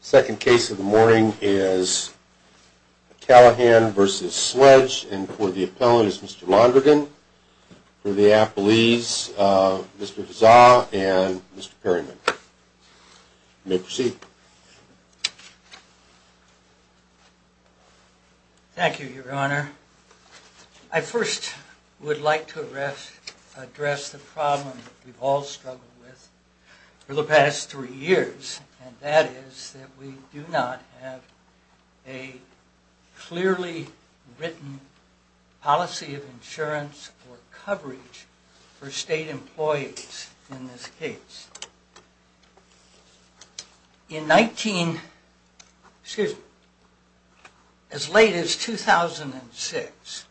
The second case of the morning is Callahan v. Sledge, and for the appellant is Mr. Londrigan, for the appellees Mr. Fazar and Mr. Perryman. You may proceed. Thank you, your honor. I first would like to address the problem we've all struggled with for the past three years, and that is that we do not have a clearly written policy of insurance or coverage for state employees in this case. In 19, excuse me, as late as 2006,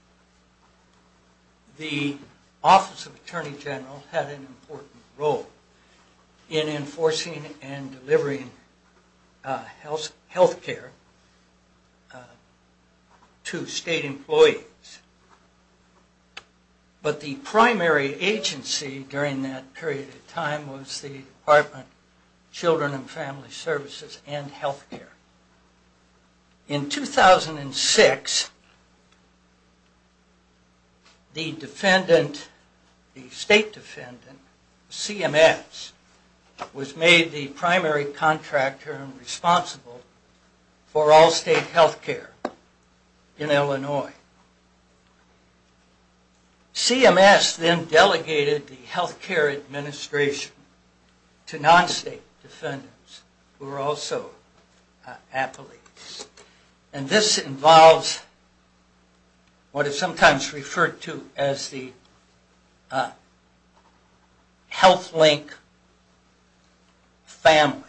the Office of Attorney General had an important role in enforcing and delivering health care to state employees. But the primary agency during that period of time was the Department of Children and Family Services and Health Care. In 2006, the defendant, the state defendant, CMS, was made the primary contractor and responsible for all state health care in Illinois. CMS then delegated the health care administration to non-state defendants who were also appellees. And this involves what is sometimes referred to as the health link family.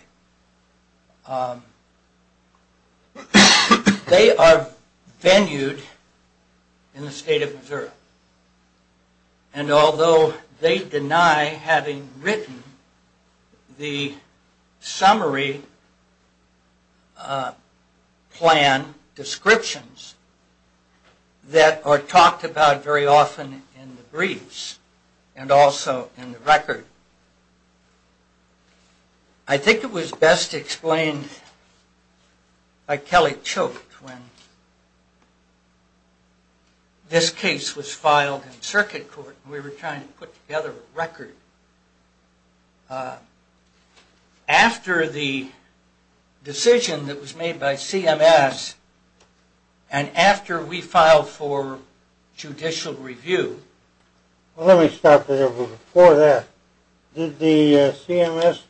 They are venued in the state of Missouri, and although they deny having written the summary plan descriptions that are talked about very often in the briefs and also in the record. I think it was best explained by Kelly Choate when this case was filed in circuit court, and we were trying to put together a record. After the decision that was made by CMS, and after we filed for judicial review. Let me stop there, but before that, did the CMS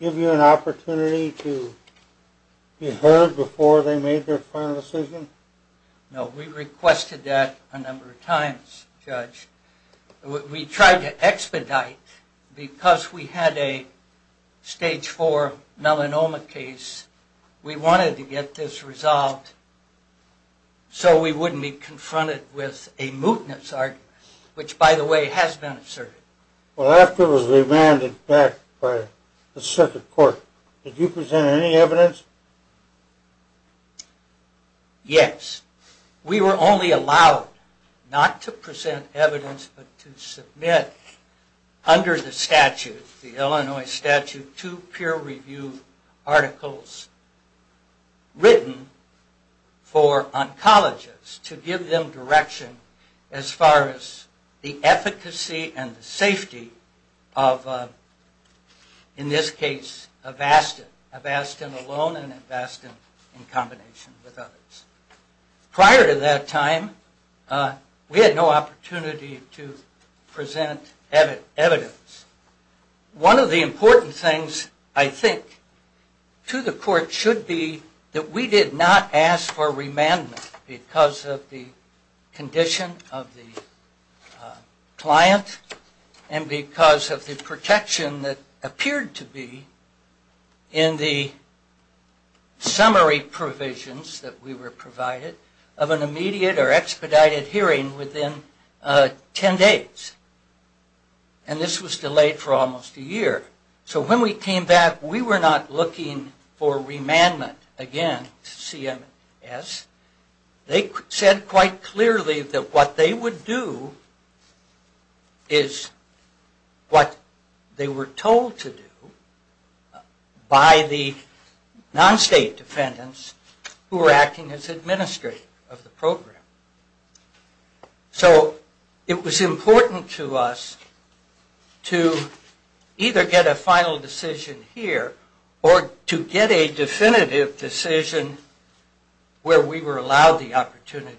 give you an opportunity to be heard before they made their final decision? No, we requested that a number of times, Judge. We tried to expedite because we had a stage four melanoma case. We wanted to get this resolved so we wouldn't be confronted with a mootness argument, which by the way has been asserted. Well, after it was remanded back by the circuit court, did you present any evidence? Yes. We were only allowed, not to present evidence, but to submit under the statute, the Illinois statute, two peer review articles written for oncologists to give them direction as far as the efficacy and the safety of, in this case, Avastin. Avastin alone and Avastin in combination with others. Prior to that time, we had no opportunity to present evidence. One of the important things, I think, to the court should be that we did not ask for remandment because of the condition of the client and because of the protection that appeared to be in the summary provisions that we were provided of an immediate or expedited hearing within ten days. And this was delayed for almost a year. So when we came back, we were not looking for remandment against CMS. They said quite clearly that what they would do is what they were told to do by the non-state defendants who were acting as administrators of the program. So it was important to us to either get a final decision here or to get a definitive decision where we were allowed the opportunity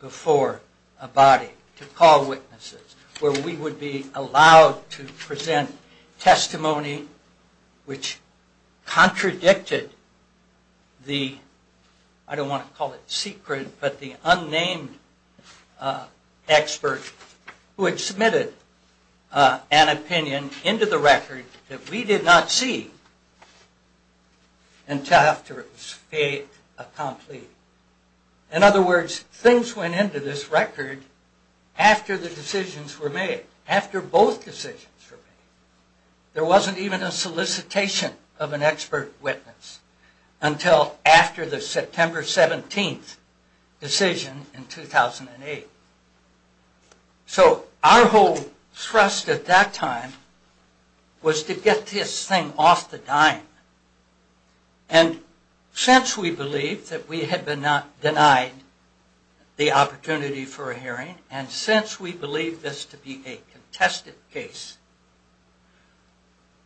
before abiding to call witnesses, where we would be allowed to present testimony which contradicted the, I don't want to call it secret, but the unnamed expert who had submitted an opinion into the record that we did not see until after it was fait accompli. In other words, things went into this record after the decisions were made, after both decisions were made. There wasn't even a solicitation of an expert witness until after the September 17th decision in 2008. So our whole thrust at that time was to get this thing off the dime. And since we believed that we had been denied the opportunity for a hearing and since we believed this to be a contested case,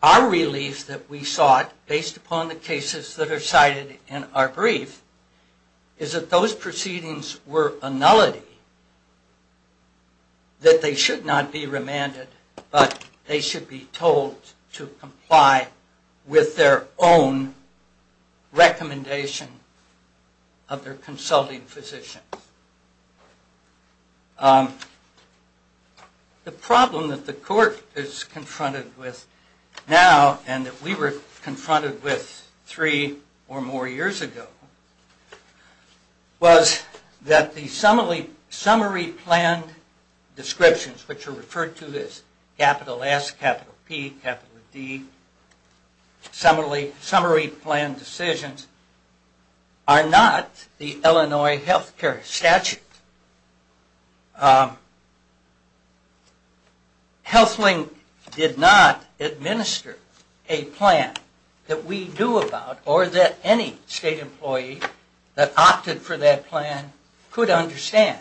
our relief that we sought based upon the cases that are cited in our brief is that those proceedings were a nullity. That they should not be remanded, but they should be told to comply with their own recommendation of their consulting physician. The problem that the court is confronted with now, and that we were confronted with three or more years ago, was that the summary planned descriptions, which are referred to as capital S, capital P, capital D, summary planned decisions, are not the Illinois Health Care Act. They're statutes. Health Link did not administer a plan that we knew about or that any state employee that opted for that plan could understand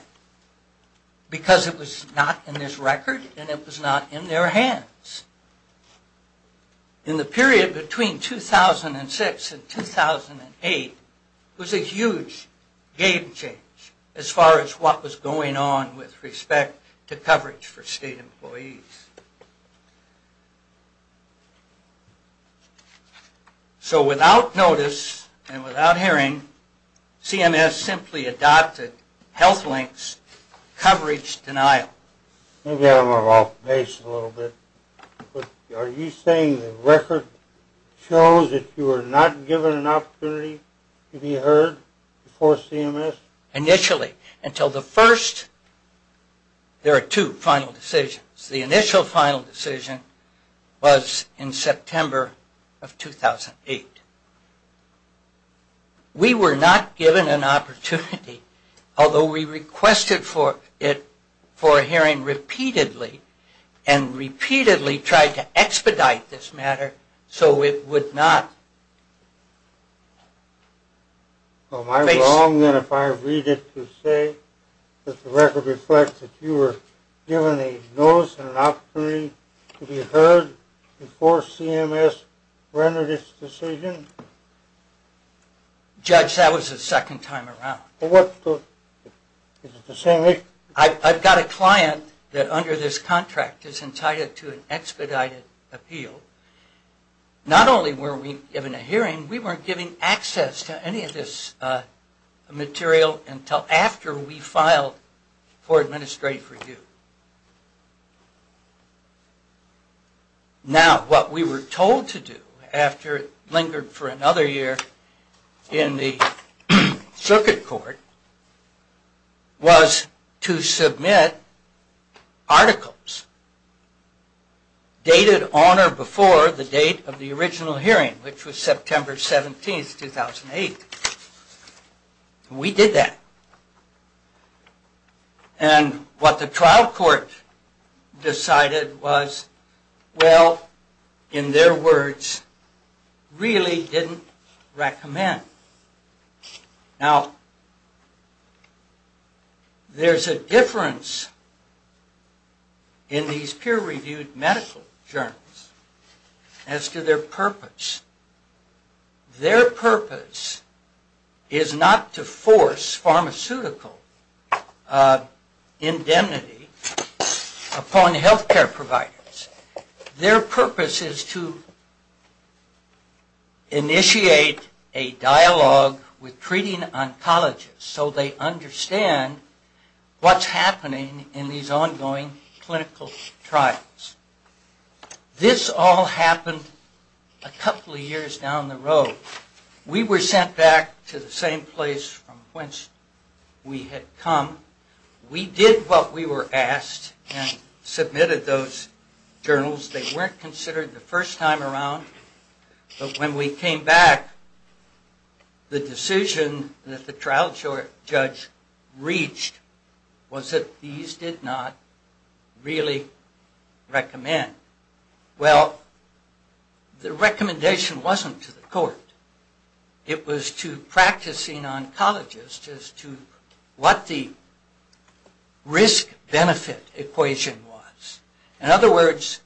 because it was not in this record and it was not in their hands. In the period between 2006 and 2008 was a huge game changer as far as what was going on with respect to coverage for state employees. So without notice and without hearing, CMS simply adopted Health Link's coverage denial. Maybe I'm off base a little bit, but are you saying the record shows that you were not given an opportunity to be heard before CMS? Initially, until the first... there are two final decisions. The initial final decision was in September of 2008. We were not given an opportunity, although we requested for a hearing repeatedly and repeatedly tried to expedite this matter so it would not... Well, am I wrong then if I read it to say that the record reflects that you were given a notice and an opportunity to be heard before CMS rendered its decision? Judge, that was the second time around. Is it the same issue? I've got a client that under this contract is entitled to an expedited appeal. Not only were we given a hearing, we weren't given access to any of this material until after we filed for administrative review. Now, what we were told to do after it lingered for another year in the circuit court was to submit articles dated on or before the date of the original hearing, which was September 17, 2008. And we did that. And what the trial court decided was, well, in their words, really didn't recommend. Now, there's a difference in these peer-reviewed medical journals as to their purpose. Their purpose is not to force pharmaceutical indemnity upon health care providers. Their purpose is to initiate a dialogue with treating oncologists so they understand what's happening in these ongoing clinical trials. This all happened a couple of years down the road. We were sent back to the same place from which we had come. We did what we were asked and submitted those journals. They weren't considered the first time around. But when we came back, the decision that the trial judge reached was that these did not really recommend. Well, the recommendation wasn't to the court. It was to practicing oncologists as to what the risk-benefit equation was. In other words,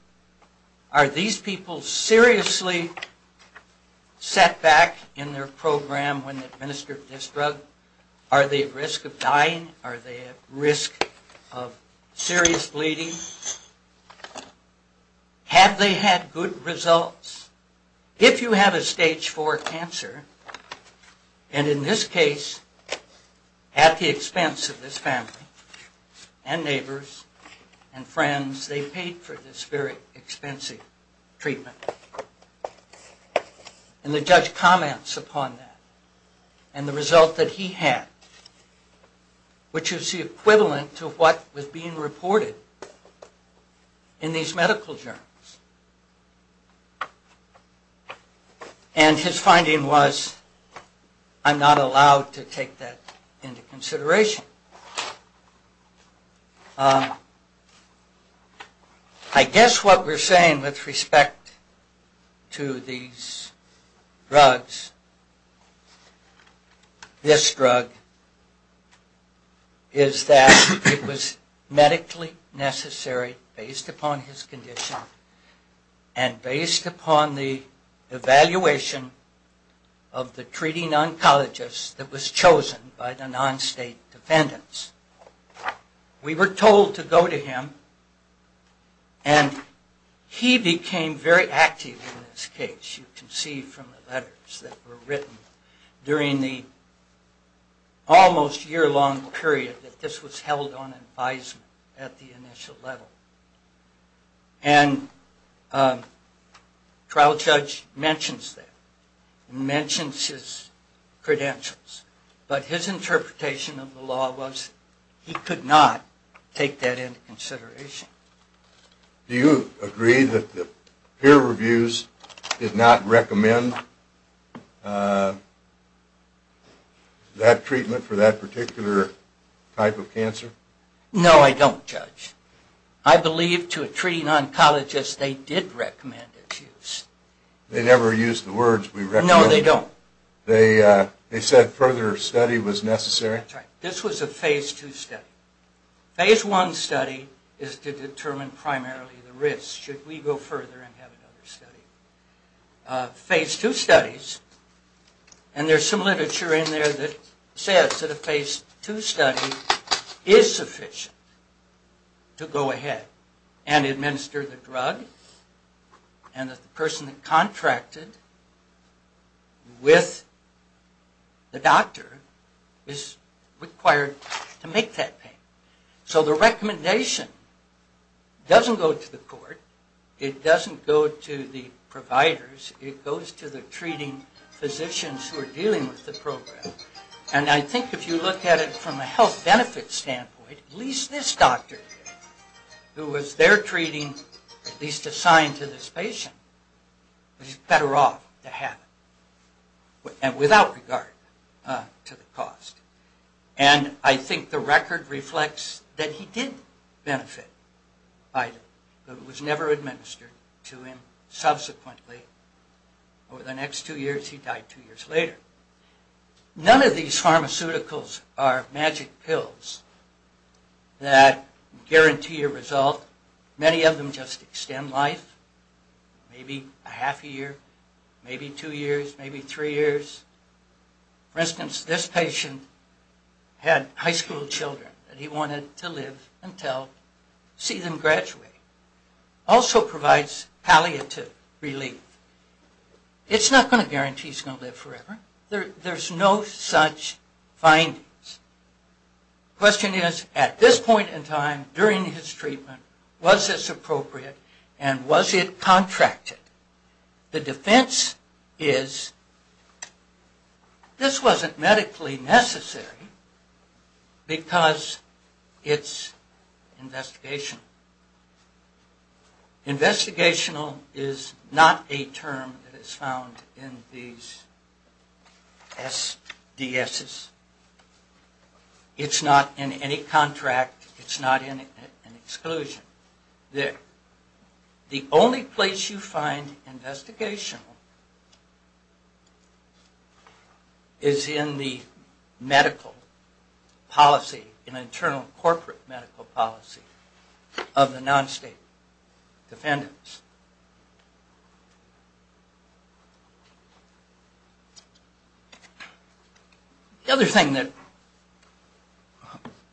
are these people seriously set back in their program when they administer this drug? Are they at risk of dying? Are they at risk of serious bleeding? Have they had good results? If you have a stage 4 cancer, and in this case, at the expense of this family and neighbors and friends, they paid for this very expensive treatment, and the judge comments upon that and the result that he had, which is the equivalent to what was being reported in these medical journals. And his finding was, I'm not allowed to take that into consideration. I guess what we're saying with respect to these drugs, this drug, is that it was medically necessary, based upon his condition, and based upon the evaluation of the treating oncologist that was chosen by the non-state defendants. We were told to go to him, and he became very active in this case. You can see from the letters that were written during the almost year-long period that this was held on advisement at the initial level. And the trial judge mentions that, mentions his credentials. But his interpretation of the law was he could not take that into consideration. Do you agree that the peer reviews did not recommend that treatment for that particular type of cancer? No, I don't, Judge. I believe to a treating oncologist they did recommend its use. They never used the words we recommended? No, they don't. They said further study was necessary? That's right. This was a Phase II study. Phase I study is to determine primarily the risk. Should we go further and have another study? Phase II studies, and there's some literature in there that says that a Phase II study is sufficient to go ahead and administer the drug, and that the person contracted with the doctor is required to make that payment. So the recommendation doesn't go to the court. It doesn't go to the providers. It goes to the treating physicians who are dealing with the program. And I think if you look at it from a health benefit standpoint, at least this doctor who was there treating, at least assigned to this patient, was better off to have it, without regard to the cost. And I think the record reflects that he did benefit, but it was never administered to him subsequently. Over the next two years, he died two years later. None of these pharmaceuticals are magic pills that guarantee a result. Many of them just extend life, maybe a half a year, maybe two years, maybe three years. For instance, this patient had high school children that he wanted to live until, see them graduate. Also provides palliative relief. It's not going to guarantee he's going to live forever. There's no such findings. The question is, at this point in time, during his treatment, was this appropriate, and was it contracted? The defense is, this wasn't medically necessary because it's investigational. Investigational is not a term that is found in these SDSs. It's not in any contract. It's not in an exclusion. The only place you find investigational is in the medical policy, in internal corporate medical policy, of the non-state defendants. The other thing that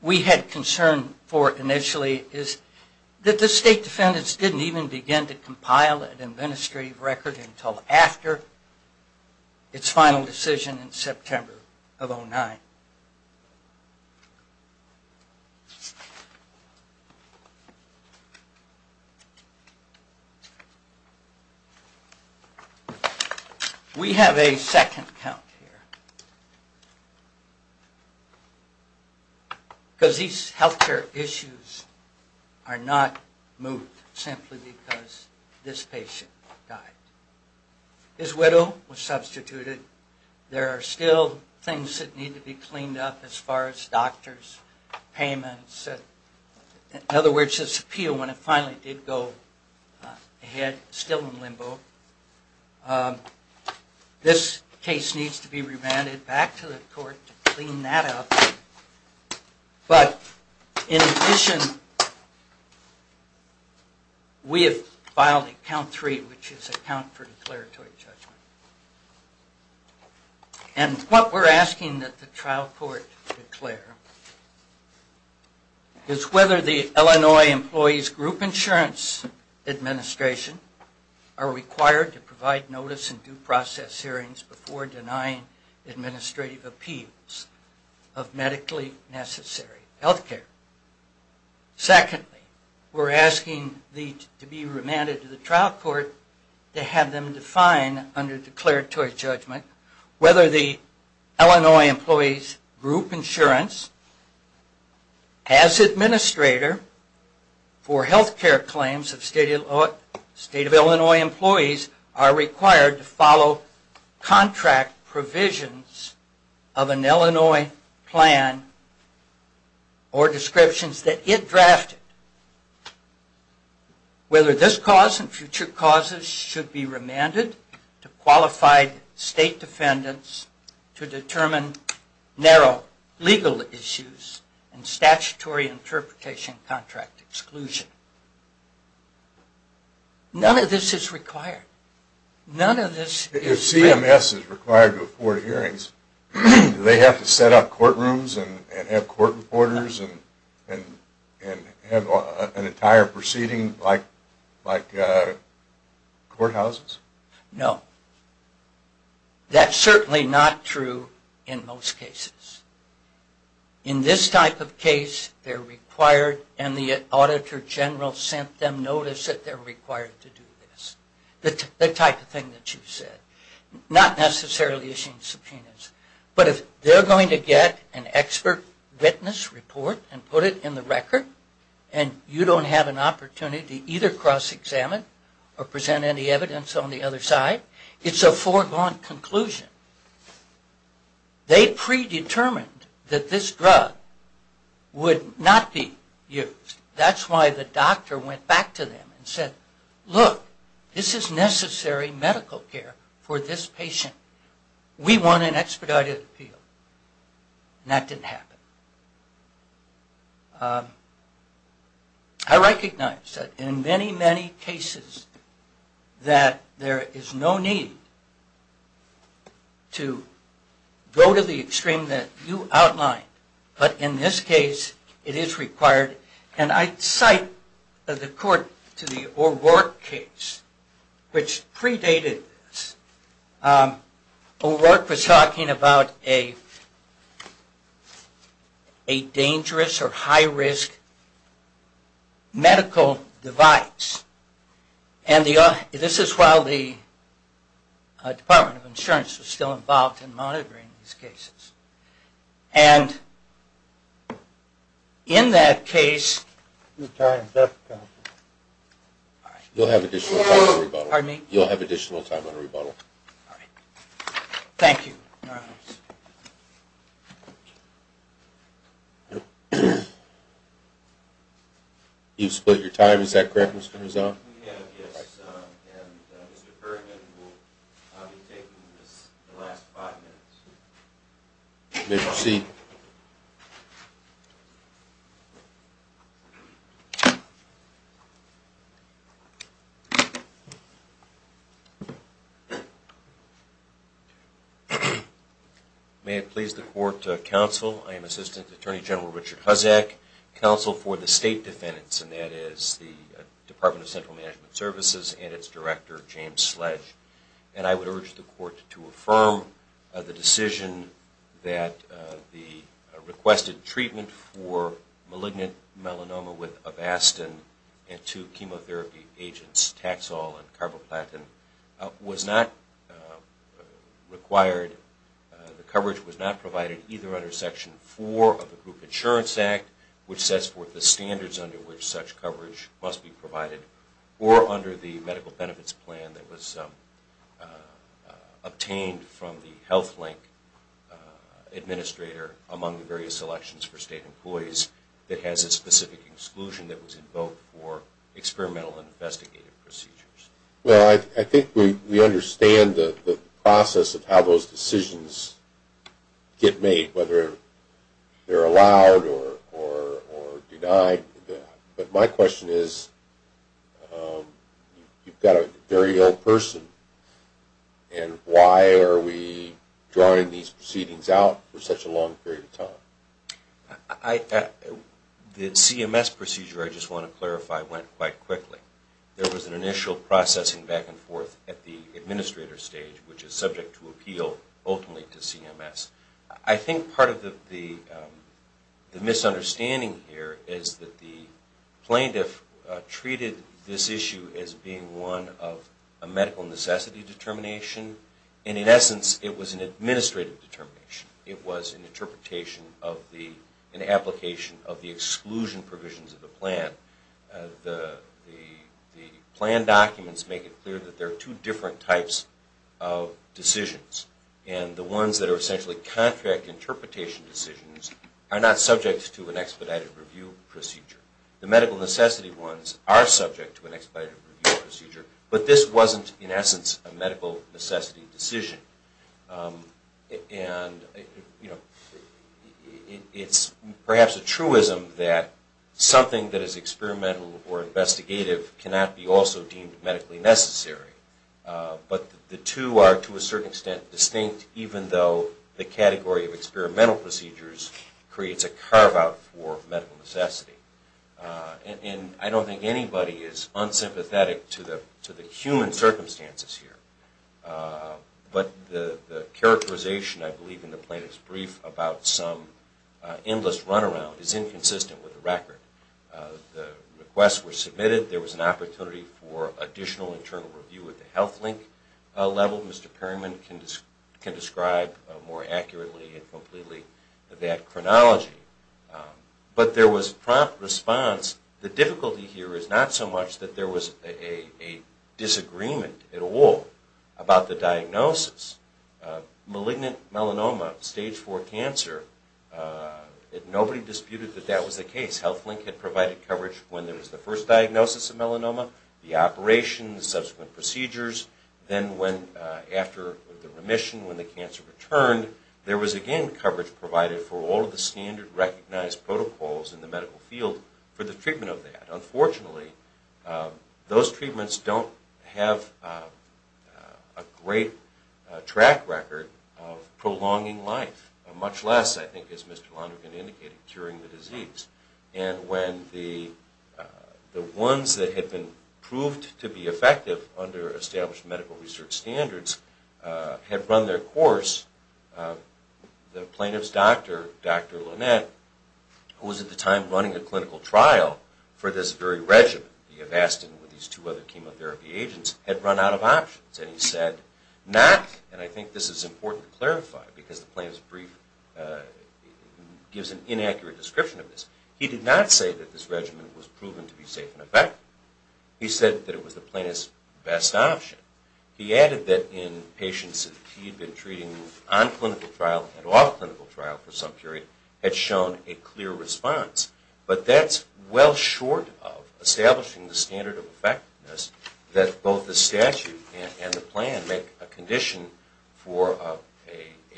we had concern for initially is that the state defendants didn't even begin to compile an administrative record until after its final decision in September of 2009. We have a second count here, because these healthcare issues are not moved simply because this patient died. His widow was substituted. There are still things that need to be considered. There are things that need to be cleaned up as far as doctors, payments. In other words, his appeal, when it finally did go ahead, still in limbo. This case needs to be remanded back to the court to clean that up. But in addition, we have filed a count three, which is a count for declaratory judgment. And what we're asking that the trial court declare is whether the Illinois Employees Group Insurance Administration are required to provide notice in due process hearings before denying administrative appeals of medically necessary healthcare. Secondly, we're asking to be remanded to the trial court to have them define under declaratory judgment whether the Illinois Employees Group Insurance, as administrator for healthcare claims of state of Illinois employees, are required to follow contract provisions of an Illinois plan or descriptions that it drafted. Whether this cause and future causes should be remanded to qualified state defendants to determine narrow legal issues and statutory interpretation contract exclusion. None of this is required. None of this is... If CMS is required to afford hearings, do they have to set up courtrooms and have court reporters and have an entire proceeding like courthouses? No. That's certainly not true in most cases. In this type of case, they're required and the auditor general sent them notice that they're required to do this. The type of thing that you said. Not necessarily issuing subpoenas, but if they're going to get an expert witness report and put it in the record and you don't have an opportunity to either cross-examine or present any evidence on the other side, it's a foregone conclusion. They predetermined that this drug would not be used. That's why the doctor went back to them and said, look, this is necessary medical care for this patient. We want an expedited appeal. And that didn't happen. I recognize that in many, many cases that there is no need to go to the extreme that you outlined. But in this case, it is required. And I cite the court to the O'Rourke case, which predated this. O'Rourke was talking about a dangerous or high-risk medical device. And this is while the Department of Insurance was still involved in monitoring these cases. And in that case, you'll have additional time on a rebuttal. Thank you. All right. You've split your time, is that correct, Mr. Rizzo? Yes. And Mr. Ferguson will be taking the last five minutes. You may proceed. May it please the Court, Counsel. I am Assistant Attorney General Richard Huzzack, Counsel for the State Defendants, and that is the Department of Central Management Services and its Director, James Sledge. And I would urge the Court to affirm the decision that the requested treatment for malignant melanoma with avastin and two chemotherapy agents, taxol and carboplatin, was not required. The coverage was not provided either under Section 4 of the Group Insurance Act, which sets forth the standards under which such coverage must be provided, or under the medical benefits plan that was obtained from the Health Link administrator among the various selections for state employees that has a specific exclusion that was invoked for experimental investigative procedures. Well, I think we understand the process of how those decisions get made, whether they're allowed or denied. But my question is, you've got a very ill person, and why are we drawing these proceedings out for such a long period of time? The CMS procedure, I just want to clarify, went quite quickly. There was an initial processing back and forth at the administrator stage, which is subject to appeal ultimately to CMS. I think part of the misunderstanding here is that the plaintiff treated this issue as being one of a medical necessity determination, and in essence it was an administrative determination. It was an application of the exclusion provisions of the plan. The plan documents make it clear that there are two different types of decisions, and the ones that are essentially contract interpretation decisions are not subject to an expedited review procedure. The medical necessity ones are subject to an expedited review procedure, but this wasn't in essence a medical necessity decision. It's perhaps a truism that something that is experimental or investigative cannot be also deemed medically necessary. But the two are to a certain extent distinct, even though the category of experimental procedures creates a carve-out for medical necessity. I don't think anybody is unsympathetic to the human circumstances here, but the characterization, I believe, in the plaintiff's brief about some endless runaround is inconsistent with the record. The requests were submitted. There was an opportunity for additional internal review at the Health Link level. I don't know if Mr. Perryman can describe more accurately and completely that chronology. But there was prompt response. The difficulty here is not so much that there was a disagreement at all about the diagnosis. Malignant melanoma, stage 4 cancer, nobody disputed that that was the case. Health Link had provided coverage when there was the first diagnosis of melanoma, the operations, subsequent procedures. Then after the remission, when the cancer returned, there was again coverage provided for all of the standard recognized protocols in the medical field for the treatment of that. Unfortunately, those treatments don't have a great track record of prolonging life, much less, I think as Mr. Lonergan indicated, curing the disease. And when the ones that had been proved to be effective under established medical research standards had run their course, the plaintiff's doctor, Dr. Lunette, who was at the time running a clinical trial for this very regimen, the Avastin with these two other chemotherapy agents, had run out of options. And he said, not, and I think this is important to clarify because the plaintiff's brief gives an inaccurate description of this. He did not say that this regimen was proven to be safe and effective. He said that it was the plaintiff's best option. He added that in patients that he had been treating on clinical trial and off clinical trial for some period had shown a clear response. that both the statute and the plan make a condition for a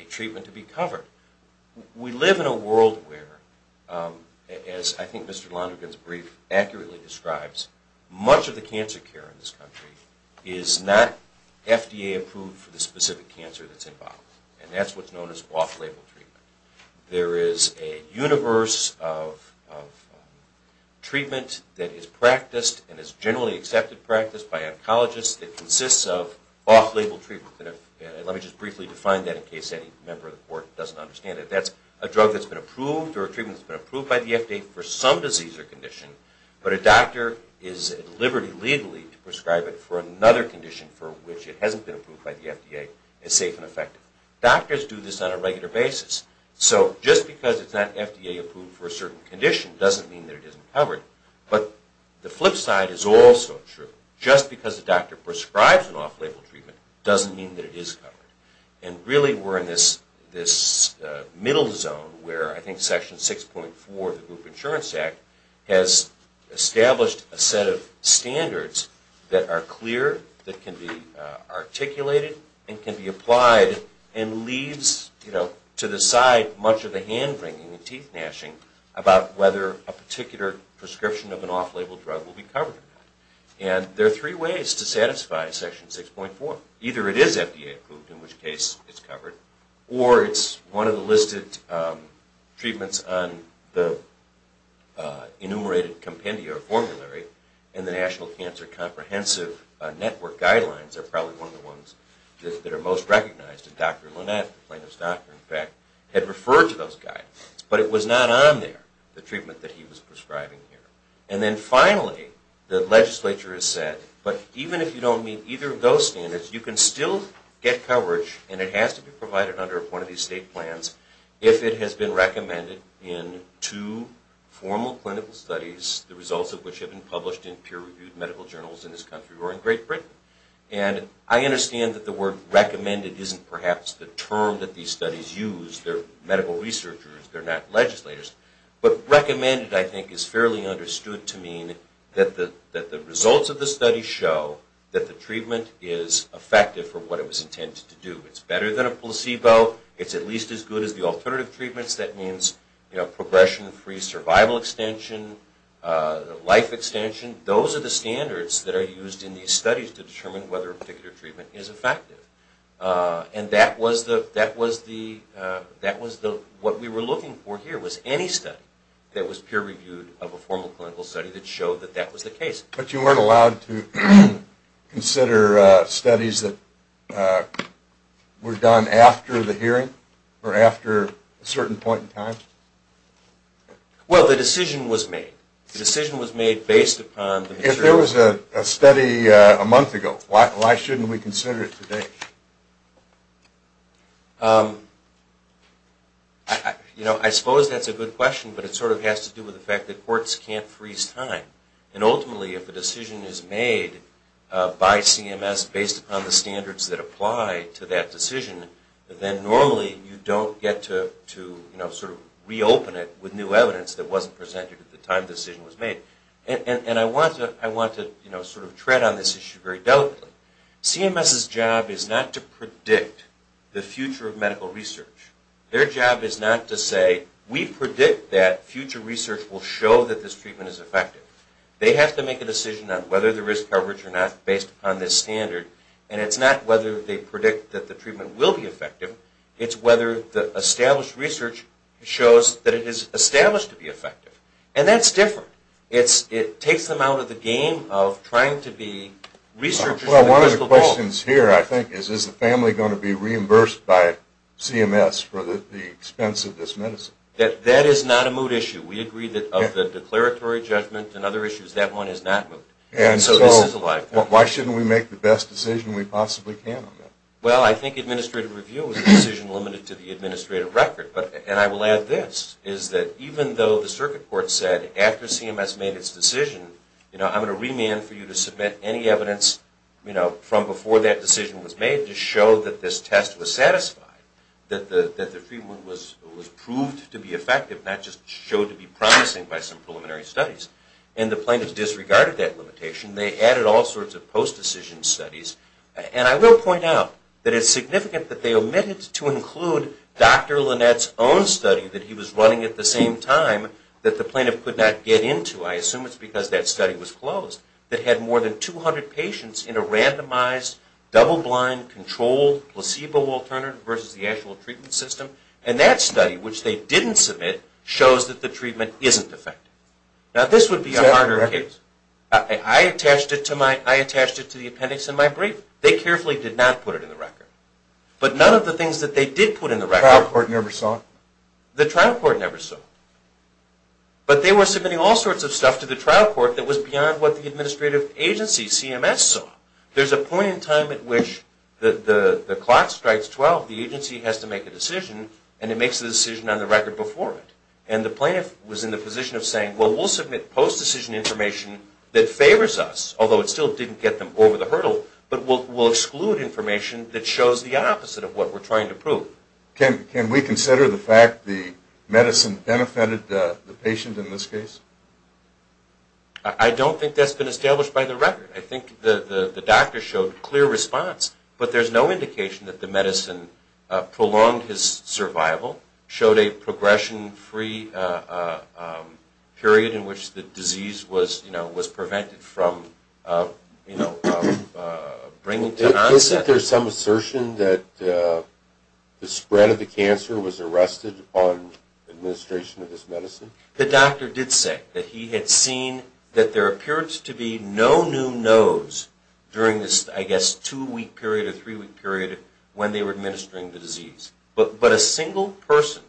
treatment to be covered. We live in a world where, as I think Mr. Lonergan's brief accurately describes, much of the cancer care in this country is not FDA approved for the specific cancer that's involved. And that's what's known as off-label treatment. There is a universe of treatment that is practiced and is generally accepted practice by oncologists that consists of off-label treatment. Let me just briefly define that in case any member of the court doesn't understand it. That's a drug that's been approved or a treatment that's been approved by the FDA for some disease or condition, but a doctor is at liberty legally to prescribe it for another condition for which it hasn't been approved by the FDA as safe and effective. Doctors do this on a regular basis. So just because it's not FDA approved for a certain condition doesn't mean that it isn't covered. But the flip side is also true. Just because a doctor prescribes an off-label treatment doesn't mean that it is covered. And really we're in this middle zone where I think Section 6.4 of the Group Insurance Act has established a set of standards that are clear, that can be articulated and can be applied and leads to decide much of the hand-wringing and teeth-gnashing about whether a particular prescription of an off-label drug will be covered. And there are three ways to satisfy Section 6.4. Either it is FDA approved, in which case it's covered, or it's one of the listed treatments on the enumerated compendia or formulary and the National Cancer Comprehensive Network guidelines are probably one of the ones that are most recognized. And Dr. Lynette, the plaintiff's doctor, in fact, had referred to those guidelines. But it was not on there, the treatment that he was prescribing here. And then finally, the legislature has said, but even if you don't meet either of those standards, you can still get coverage and it has to be provided under one of these state plans if it has been recommended in two formal clinical studies, the results of which have been published in peer-reviewed medical journals in this country or in Great Britain. And I understand that the word recommended isn't perhaps the term that these studies use. They're medical researchers, they're not legislators. But recommended, I think, is fairly understood to mean that the results of the study show that the treatment is effective for what it was intended to do. It's better than a placebo, it's at least as good as the alternative treatments. That means, you know, progression-free survival extension, life extension. Those are the standards that are used in these studies to determine whether a particular treatment is effective. And that was what we were looking for here, was any study that was peer-reviewed of a formal clinical study that showed that that was the case. But you weren't allowed to consider studies that were done after the hearing or after a certain point in time? Well, the decision was made. The decision was made based upon the material. If there was a study a month ago, why shouldn't we consider it today? You know, I suppose that's a good question, but it sort of has to do with the fact that courts can't freeze time. And ultimately, if a decision is made by CMS based upon the standards that apply to that decision, then normally you don't get to sort of reopen it with new evidence that wasn't presented at the time the decision was made. And I want to sort of tread on this issue very delicately. CMS's job is not to predict the future of medical research. Their job is not to say, we predict that future research will show that this treatment is effective. They have to make a decision on whether the risk coverage or not based upon this standard. And it's not whether they predict that the treatment will be effective. It's whether the established research shows that it is established to be effective. And that's different. It takes them out of the game of trying to be researchers. Well, one of the questions here, I think, is, is the family going to be reimbursed by CMS for the expense of this medicine? That is not a moot issue. We agree that of the declaratory judgment and other issues, that one is not moot. And so this is a live question. Why shouldn't we make the best decision we possibly can on that? Well, I think administrative review is a decision limited to the administrative record. And I will add this, is that even though the circuit court said, after CMS made its decision, you know, I'm going to remand for you to submit any evidence, you know, from before that decision was made to show that this test was satisfied, that the treatment was proved to be effective, not just showed to be promising by some preliminary studies. And the plaintiff disregarded that limitation. They added all sorts of post-decision studies. And I will point out that it's significant that they omitted to include Dr. Lynette's own study that he was running at the same time that the plaintiff could not get into. I assume it's because that study was closed, that had more than 200 patients in a randomized, double-blind, controlled placebo alternative versus the actual treatment system. And that study, which they didn't submit, shows that the treatment isn't effective. Now, this would be a harder case. Is that correct? I attached it to the appendix in my brief. They carefully did not put it in the record. But none of the things that they did put in the record... The trial court never saw it? The trial court never saw it. But they were submitting all sorts of stuff to the trial court that was beyond what the administrative agency, CMS, saw. There's a point in time at which the clock strikes 12, the agency has to make a decision, and it makes a decision on the record before it. And the plaintiff was in the position of saying, well, we'll submit post-decision information that favors us, although it still didn't get them over the hurdle, but we'll exclude information that shows the opposite of what we're trying to prove. Can we consider the fact the medicine benefited the patient in this case? I don't think that's been established by the record. I think the doctor showed clear response, but there's no indication that the medicine prolonged his survival, showed a progression-free period in which the disease was prevented from bringing to an onset. Is it that there's some assertion that the spread of the cancer was arrested upon administration of this medicine? The doctor did say that he had seen that there appeared to be no new nose during this, I guess, two-week period or three-week period when they were administering the disease. But a single person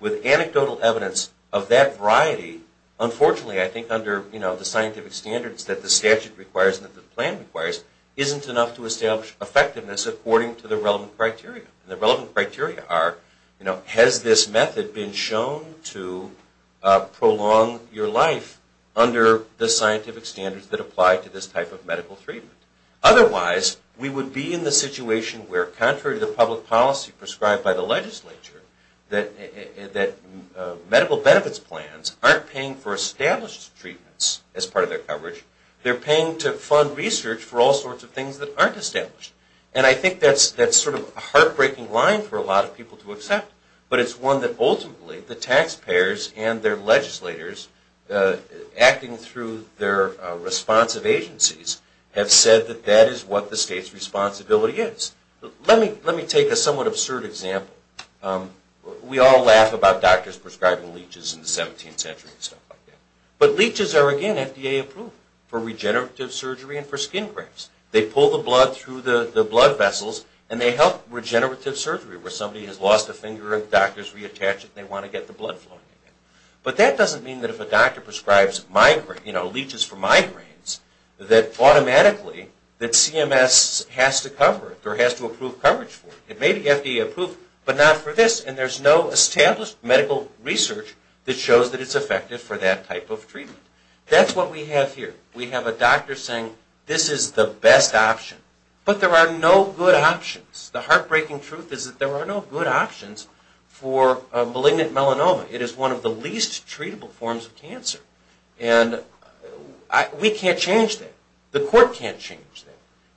with anecdotal evidence of that variety, unfortunately, I think under the scientific standards that the statute requires and that the plan requires, isn't enough to establish effectiveness according to the relevant criteria. And the relevant criteria are, you know, has this method been shown to prolong your life under the scientific standards that apply to this type of medical treatment? Otherwise, we would be in the situation where, contrary to the public policy prescribed by the legislature, that medical benefits plans aren't paying for established treatments as part of their coverage. They're paying to fund research for all sorts of things that aren't established. And I think that's sort of a heartbreaking line for a lot of people to accept. But it's one that ultimately the taxpayers and their legislators, acting through their responsive agencies, have said that that is what the state's responsibility is. Let me take a somewhat absurd example. We all laugh about doctors prescribing leeches in the 17th century and stuff like that. But leeches are, again, FDA approved for regenerative surgery and for skin cramps. They pull the blood through the blood vessels and they help regenerative surgery where somebody has lost a finger and doctors reattach it and they want to get the blood flowing again. But that doesn't mean that if a doctor prescribes leeches for migraines, that automatically that CMS has to cover it or has to approve coverage for it. It may be FDA approved, but not for this. And there's no established medical research that shows that it's effective for that type of treatment. That's what we have here. We have a doctor saying this is the best option. But there are no good options. The heartbreaking truth is that there are no good options for malignant melanoma. It is one of the least treatable forms of cancer. And we can't change that. The court can't change that.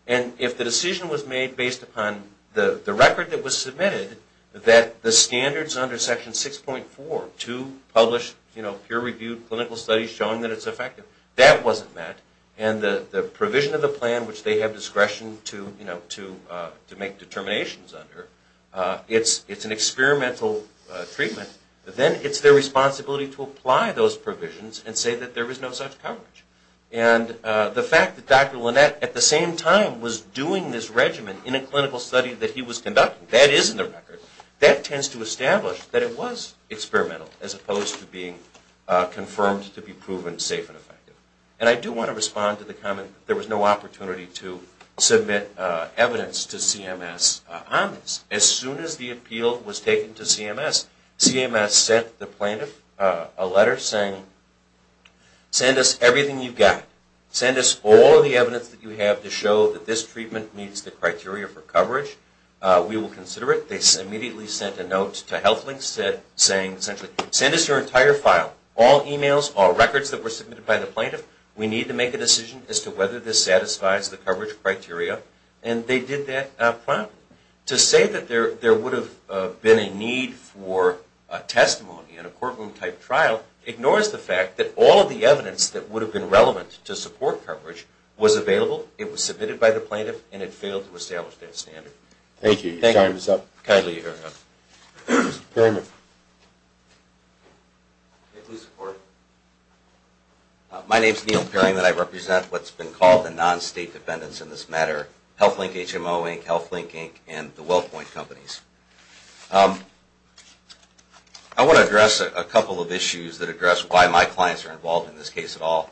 And if the decision was made based upon the record that was submitted, that the standards under Section 6.4 to publish, you know, peer-reviewed clinical studies showing that it's effective, that wasn't met. And the provision of the plan, which they have discretion to make determinations under, it's an experimental treatment. Then it's their responsibility to apply those provisions and say that there is no such coverage. And the fact that Dr. Lynette, at the same time, was doing this regimen in a clinical study that he was conducting, that is in the record, that tends to establish that it was experimental, as opposed to being confirmed to be proven safe and effective. And I do want to respond to the comment that there was no opportunity to submit evidence to CMS on this. As soon as the appeal was taken to CMS, CMS sent the plaintiff a letter saying, Send us everything you've got. Send us all the evidence that you have to show that this treatment meets the criteria for coverage. We will consider it. They immediately sent a note to HealthLynx saying essentially, Send us your entire file, all emails, all records that were submitted by the plaintiff. We need to make a decision as to whether this satisfies the coverage criteria. And they did that promptly. To say that there would have been a need for testimony in a courtroom-type trial ignores the fact that all of the evidence that would have been relevant to support coverage was available, it was submitted by the plaintiff, and it failed to establish that standard. Thank you. Your time is up. Thank you. Kindly, you're hearing up. Mr. Perring. Please support. My name is Neil Perring, and I represent what's been called the non-state defendants in this matter, HealthLynx HMO, HealthLynx Inc., and the WellPoint companies. I want to address a couple of issues that address why my clients are involved in this case at all.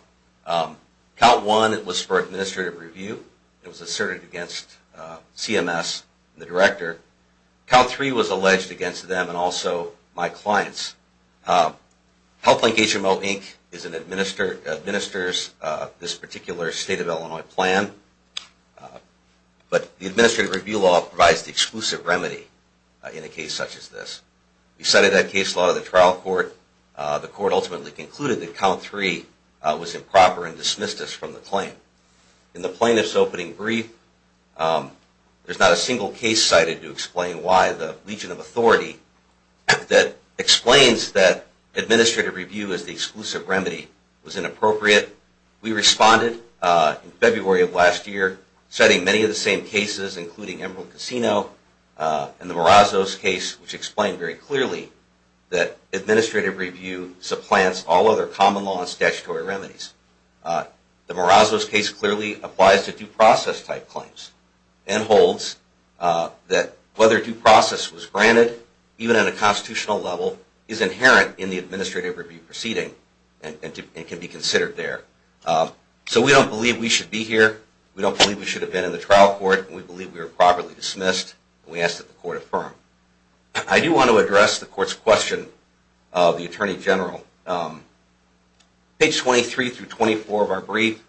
Count one, it was for administrative review. It was asserted against CMS, the director. Count three was alleged against them and also my clients. HealthLynx HMO, Inc. administers this particular State of Illinois plan, but the administrative review law provides the exclusive remedy in a case such as this. We cited that case law to the trial court. The court ultimately concluded that count three was improper and dismissed us from the claim. In the plaintiff's opening brief, there's not a single case cited to explain why the legion of authority that explains that administrative review as the exclusive remedy was inappropriate. We responded in February of last year citing many of the same cases, including Emerald Casino and the Morazzo's case, which explained very clearly that administrative review supplants all other common law and statutory remedies. The Morazzo's case clearly applies to due process type claims and holds that whether due process was granted, even at a constitutional level, is inherent in the administrative review proceeding and can be considered there. So we don't believe we should be here. We don't believe we should have been in the trial court. We believe we were properly dismissed. We ask that the court affirm. I do want to address the court's question of the Attorney General. Page 23 through 24 of our brief,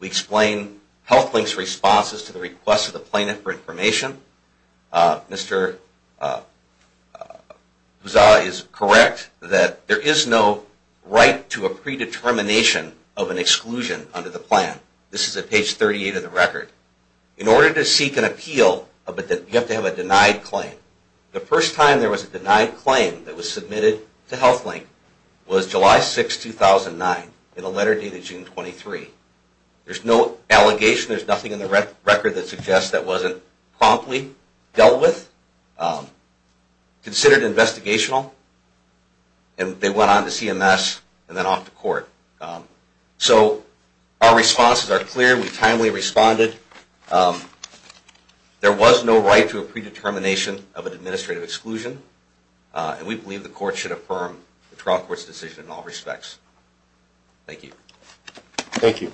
we explain HealthLynx's responses to the request of the plaintiff for information. Mr. Buzza is correct that there is no right to a predetermination of an exclusion under the plan. This is at page 38 of the record. In order to seek an appeal, you have to have a denied claim. The first time there was a denied claim that was submitted to HealthLynx was July 6, 2009, in a letter dated June 23. There's no allegation. There's nothing in the record that suggests that wasn't promptly dealt with, considered investigational, and they went on to CMS and then off to court. So our responses are clear. We timely responded. There was no right to a predetermination of an administrative exclusion, and we believe the court should affirm the trial court's decision in all respects. Thank you. Thank you.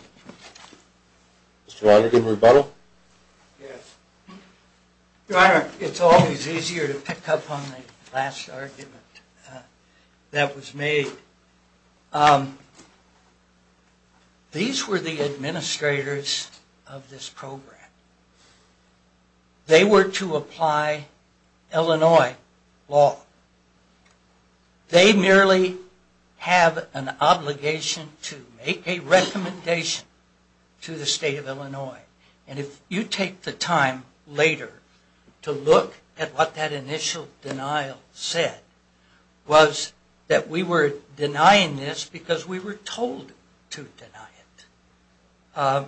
Mr. Ryder, do you have a rebuttal? Yes. Your Honor, it's always easier to pick up on the last argument that was made. These were the administrators of this program. They were to apply Illinois law. They merely have an obligation to make a recommendation to the state of Illinois, and if you take the time later to look at what that initial denial said, was that we were denying this because we were told to deny it.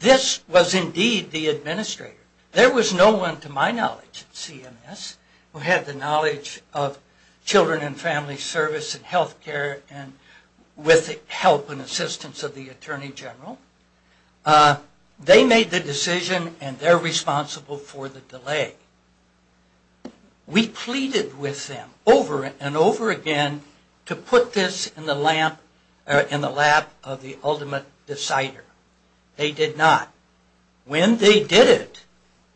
This was indeed the administrator. There was no one to my knowledge at CMS who had the knowledge of children and family service and health care with the help and assistance of the Attorney General. They made the decision, and they're responsible for the delay. We pleaded with them over and over again to put this in the lap of the ultimate decider. They did not. When they did it,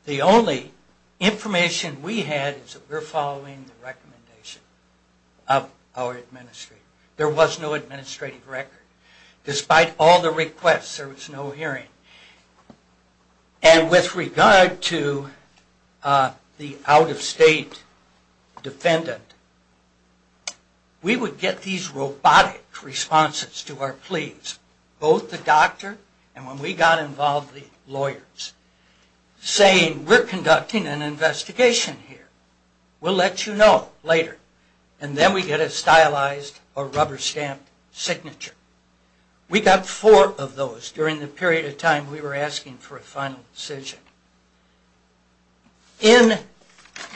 the only information we had is that we're following the recommendation of our administrator. There was no administrative record. Despite all the requests, there was no hearing. And with regard to the out-of-state defendant, we would get these robotic responses to our pleas. Both the doctor and when we got involved, the lawyers, saying we're conducting an investigation here. We'll let you know later. And then we get a stylized or rubber-stamped signature. We got four of those during the period of time we were asking for a final decision. In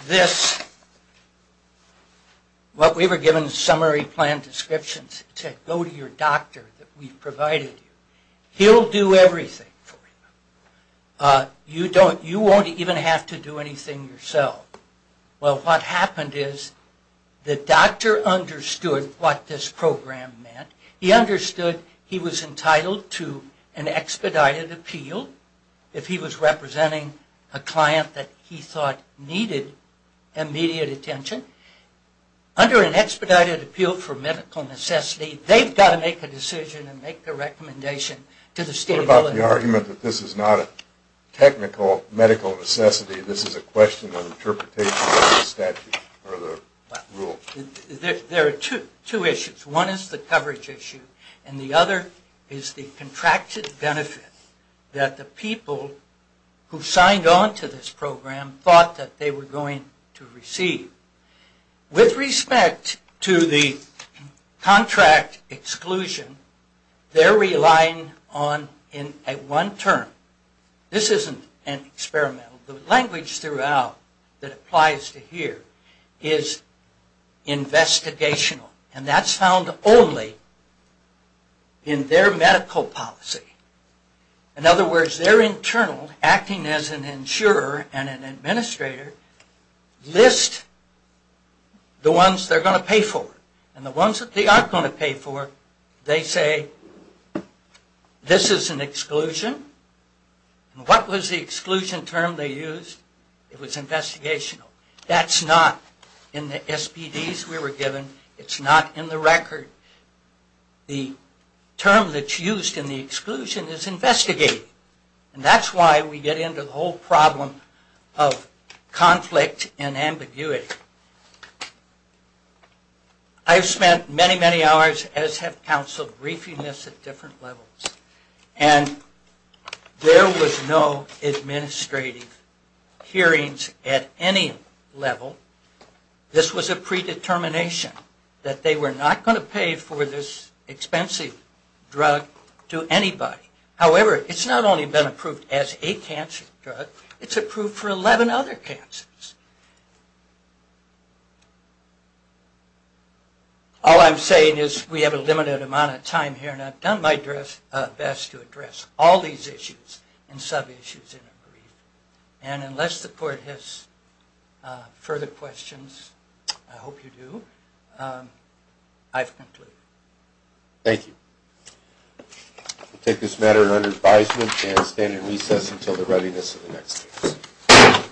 this, what we were given is summary plan descriptions. It said, go to your doctor that we've provided you. He'll do everything for you. You won't even have to do anything yourself. Well, what happened is the doctor understood what this program meant. He understood he was entitled to an expedited appeal if he was representing a client that he thought needed immediate attention. Under an expedited appeal for medical necessity, they've got to make a decision and make a recommendation to the state. What about the argument that this is not a technical medical necessity? This is a question of interpretation of the statute or the rule? There are two issues. One is the coverage issue and the other is the contracted benefit that the people who signed on to this program thought that they were going to receive. With respect to the contract exclusion, they're relying on a one-term. This isn't an experimental. The language throughout that applies to here is investigational. And that's found only in their medical policy. In other words, their internal, acting as an insurer and an administrator, list the ones they're going to pay for. And the ones that they aren't going to pay for, they say, this is an exclusion. And what was the exclusion term they used? It was investigational. That's not in the SPDs we were given. It's not in the record. The term that's used in the exclusion is investigative. And that's why we get into the whole problem of conflict and ambiguity. I've spent many, many hours, as have counsel, briefing this at different levels. And there was no administrative hearings at any level. This was a predetermination that they were not going to pay for this expensive drug to anybody. However, it's not only been approved as a cancer drug, it's approved for 11 other cancers. All I'm saying is we have a limited amount of time here. And I've done my best to address all these issues and sub-issues in a brief. And unless the court has further questions, I hope you do, I've concluded. Thank you. We'll take this matter under advisement and stand in recess until the readiness of the next case.